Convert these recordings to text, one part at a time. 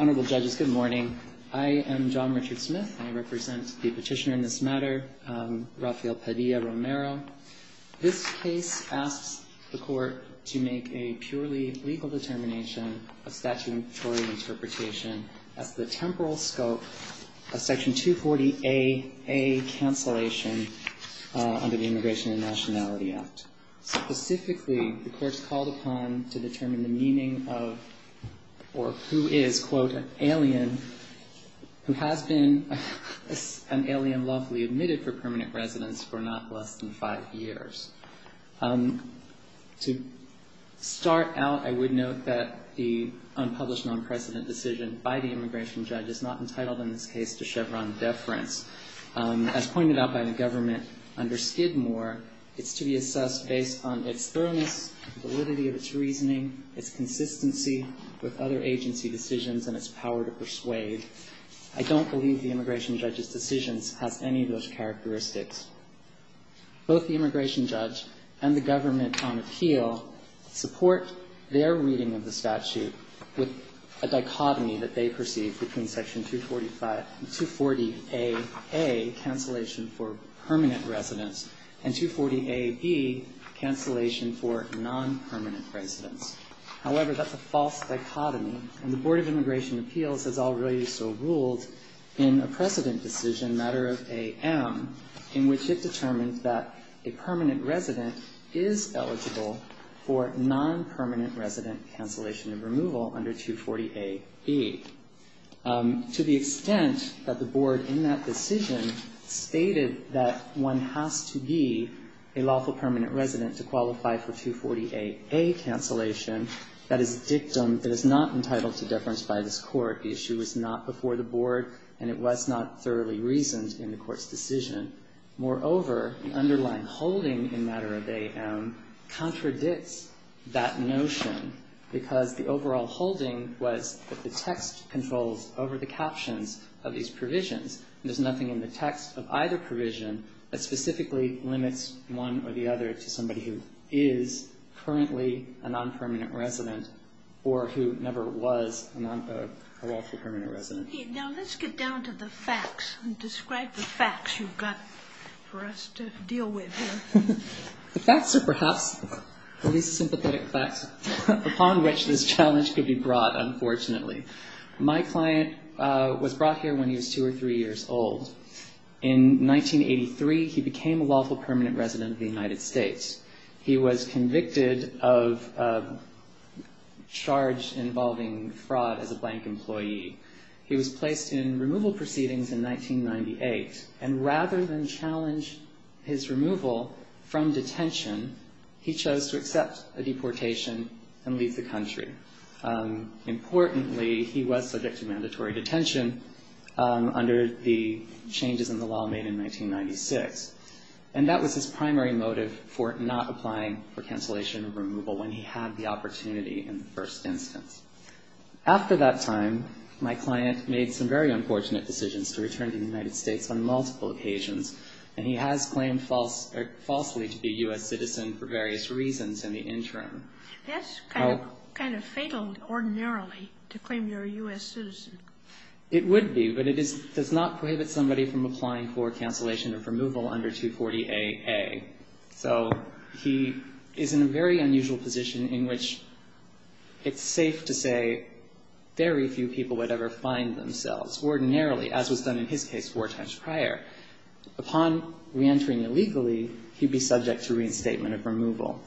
Honorable judges, good morning. I am John Richard Smith. I represent the petitioner in this matter, Rafael Padilla-Romero. This case asks the court to make a purely legal determination of statutory interpretation as to the temporal scope of Section 240aA cancellation under the Immigration and Nationality Act. Specifically, the court is called upon to determine the meaning of, or who is, quote, an alien who has been an alien lawfully admitted for permanent residence for not less than five years. To start out, I would note that the unpublished non-precedent decision by the immigration judge is not entitled in this case to Chevron deference. As pointed out by the government under Skidmore, it's to be assessed based on its thoroughness, validity of its reasoning, its consistency with other agency decisions, and its power to persuade. I don't believe the immigration judge's decisions has any of those characteristics. Both the immigration judge and the government on appeal support their reading of the statute with a dichotomy that they perceive between Section 240aA, cancellation for permanent residence, and 240aB, cancellation for non-permanent residence. However, that's a false dichotomy, and the Board of Immigration Appeals has already so ruled in a precedent decision, a matter of AM, in which it determined that a permanent resident is eligible for non-permanent resident cancellation and removal under 240aB. To the extent that the Board in that decision stated that one has to be a lawful permanent resident to qualify for 240aA cancellation, that is a dictum that is not entitled to deference by this Court. The issue was not before the Board, and it was not thoroughly reasoned in the Court's decision. Moreover, the underlying holding in matter of AM contradicts that notion, because the overall holding was that the text controls over the captions of these provisions, and there's nothing in the text of either provision that specifically limits one or the other to somebody who is currently a non-permanent resident or who never was a lawful permanent resident. Now let's get down to the facts and describe the facts you've got for us to deal with here. The facts are perhaps the least sympathetic facts upon which this challenge could be brought, unfortunately. My client was brought here when he was two or three years old. In 1983, he became a lawful permanent resident of the United States. He was convicted of a charge involving fraud as a blank employee. He was placed in removal proceedings in 1998, and rather than challenge his removal from detention, he chose to accept a deportation and leave the country. Importantly, he was subject to mandatory detention under the changes in the law made in 1996. And that was his primary motive for not applying for cancellation of removal when he had the opportunity in the first instance. After that time, my client made some very unfortunate decisions to return to the United States on multiple occasions, and he has claimed falsely to be a U.S. citizen for various reasons in the interim. That's kind of fatal ordinarily, to claim you're a U.S. citizen. It would be, but it does not prohibit somebody from applying for cancellation of removal under 240-AA. So he is in a very unusual position in which it's safe to say very few people would ever find themselves ordinarily, as was done in his case four times prior. Upon reentering illegally, he'd be subject to reinstatement of removal.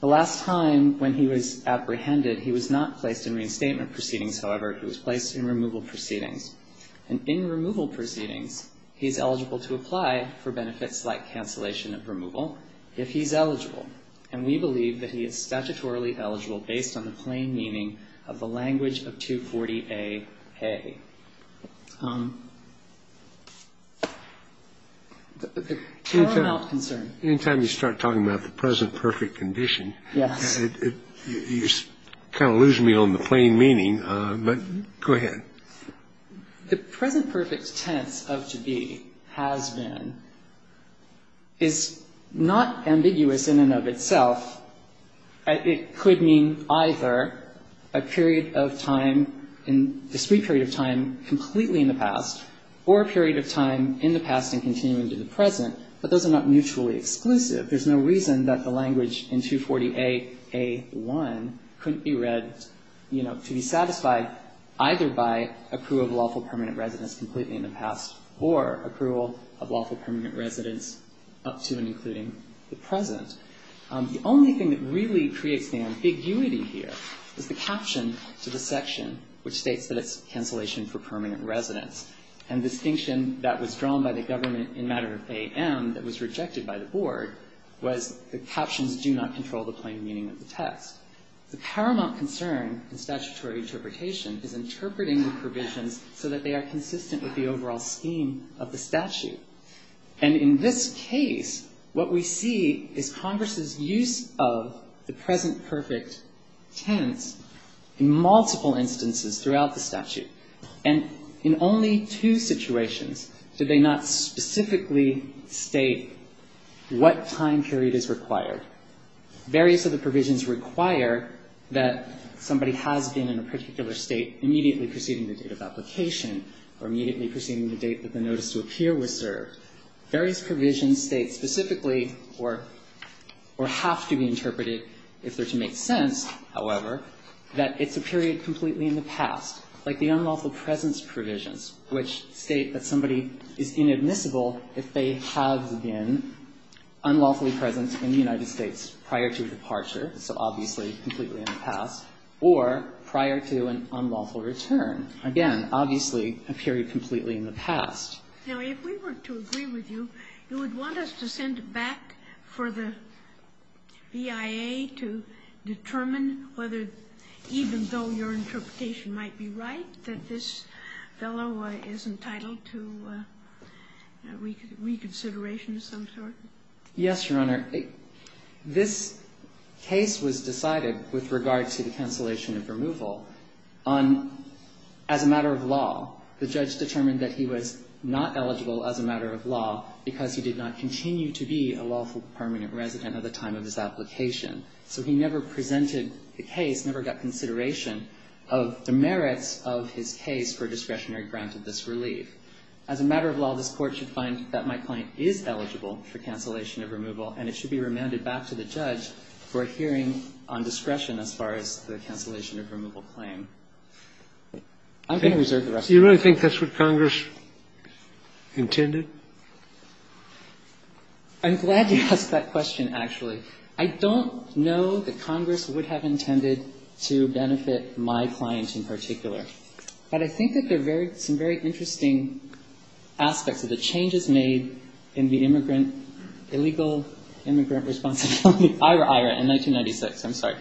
The last time when he was apprehended, he was not placed in reinstatement proceedings, however. He was placed in removal proceedings. And in removal proceedings, he's eligible to apply for benefits like cancellation of removal if he's eligible. And we believe that he is statutorily eligible based on the plain meaning of the language of 240-AA. Paramount concern. In time, you start talking about the present perfect condition. Yes. You kind of lose me on the plain meaning, but go ahead. The present perfect tense of to be, has been, is not ambiguous in and of itself. It could mean either a period of time, a discrete period of time completely in the past, or a period of time in the past and continuing to the present. But those are not mutually exclusive. There's no reason that the language in 240-AA1 couldn't be read, you know, to be satisfied either by accrual of lawful permanent residence completely in the past or accrual of lawful permanent residence up to and including the present. The only thing that really creates the ambiguity here is the caption to the section, which states that it's cancellation for permanent residence. And the distinction that was drawn by the government in matter of AM that was rejected by the board was the captions do not control the plain meaning of the text. The paramount concern in statutory interpretation is interpreting the provisions so that they are consistent with the overall scheme of the statute. And in this case, what we see is Congress's use of the present perfect tense in multiple instances throughout the statute. And in only two situations did they not specifically state what time period is required. Various of the provisions require that somebody has been in a particular state immediately preceding the date of application or immediately preceding the date that the notice to appear was served. Various provisions state specifically or have to be interpreted if they're to make sense, however, that it's a period completely in the past. Like the unlawful presence provisions, which state that somebody is inadmissible if they have been unlawfully present in the United States prior to departure, so obviously completely in the past, or prior to an unlawful return. Again, obviously a period completely in the past. Now, if we were to agree with you, you would want us to send back for the BIA to determine whether, even though your interpretation might be right, that this fellow is entitled to reconsideration of some sort? Yes, Your Honor. This case was decided with regard to the cancellation of removal on as a matter of law. The judge determined that he was not eligible as a matter of law because he did not continue to be a lawful permanent resident at the time of his application. So he never presented the case, never got consideration of the merits of his case for discretionary grant of this relief. As a matter of law, this Court should find that my client is eligible for cancellation of removal, and it should be remanded back to the judge for a hearing on discretion as far as the cancellation of removal claim. I'm going to reserve the rest of my time. Do you really think that's what Congress intended? I'm glad you asked that question, actually. I don't know that Congress would have intended to benefit my client in particular. But I think that there are some very interesting aspects of the changes made in the immigrant, illegal immigrant responsibility, IRA, IRA, in 1996. I'm sorry.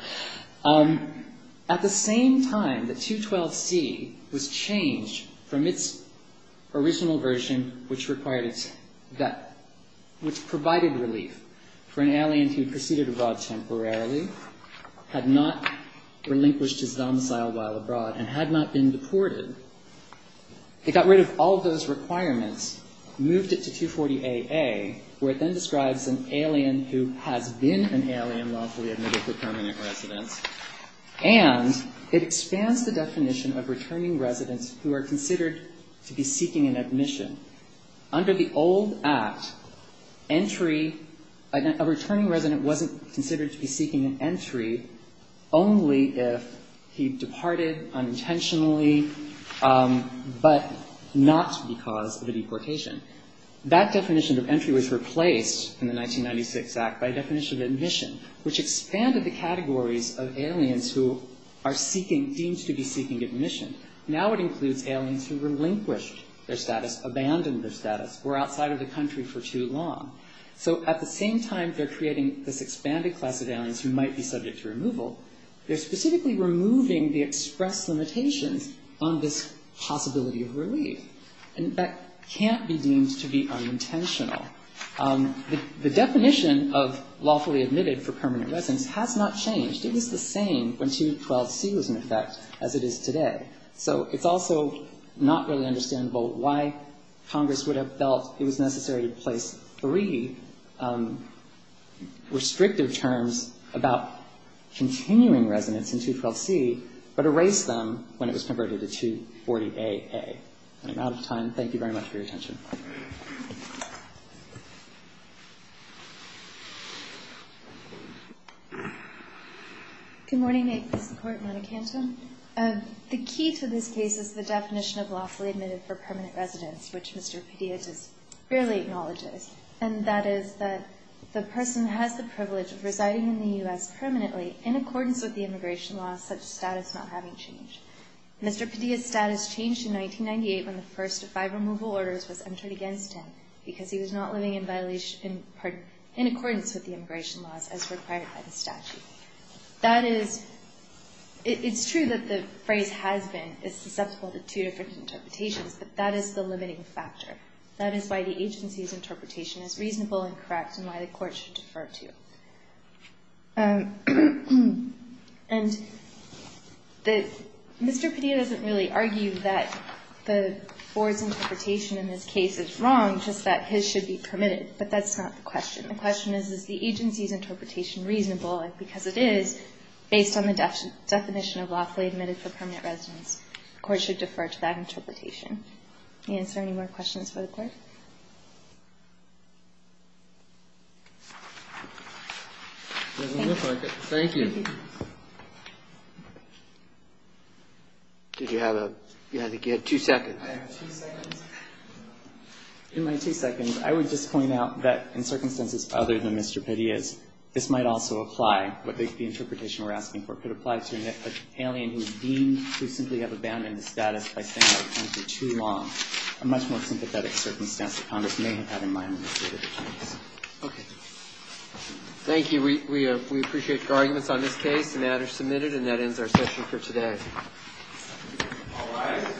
At the same time that 212C was changed from its original version, which required its, that, which provided relief for an alien who proceeded abroad temporarily, had not relinquished his domicile while abroad, and had not been deported, it got rid of all those requirements, moved it to 240AA, where it then describes an alien who has been an alien, lawfully admitted for permanent residence, and it expands the definition of returning residents who are considered to be seeking an admission. Under the old Act, entry, a returning resident wasn't considered to be seeking an entry only if he departed unintentionally, but not because of a deportation. That definition of entry was replaced in the 1996 Act by a definition of admission, which expanded the categories of aliens who are seeking, deemed to be seeking admission. Now it includes aliens who relinquished their status, abandoned their status, were outside of the country for too long. So at the same time they're creating this expanded class of aliens who might be subject to removal, they're specifically removing the express limitations on this possibility of relief. And that can't be deemed to be unintentional. The definition of lawfully admitted for permanent residence has not changed. It was the same when 212C was in effect as it is today. So it's also not really understandable why Congress would have felt it was necessary to place three restrictive terms about continuing residents in 212C, but erase them when it was converted to 240AA. And I'm out of time. Thank you very much for your attention. Good morning, Mr. Court. Monica Anton. The key to this case is the definition of lawfully admitted for permanent residence, which Mr. Padilla just barely acknowledges. And that is that the person has the privilege of residing in the U.S. permanently in accordance with the immigration law, such status not having changed. Mr. Padilla's status changed in 1998 when the first of five removal orders was entered against him because he was not living in accordance with the immigration laws as required by the statute. That is, it's true that the phrase has been susceptible to two different interpretations, but that is the limiting factor. That is why the agency's interpretation is reasonable and correct and why the court should defer to. And the Mr. Padilla doesn't really argue that the board's interpretation in this case is wrong, just that his should be permitted. But that's not the question. The question is, is the agency's interpretation reasonable? And because it is, based on the definition of lawfully admitted for permanent residence, the court should defer to that interpretation. Is there any more questions for the court? It doesn't look like it. Thank you. Did you have a two seconds? I have two seconds. In my two seconds, I would just point out that in circumstances other than Mr. Padilla's, this might also apply with the interpretation we're asking for. It could apply to an alien who is deemed to simply have abandoned the status by staying in the country too long. A much more sympathetic circumstance that Congress may have had in mind in this particular case. Okay. Thank you. We appreciate your arguments on this case, and that is submitted, and that ends our session for today. All rise. Thank you.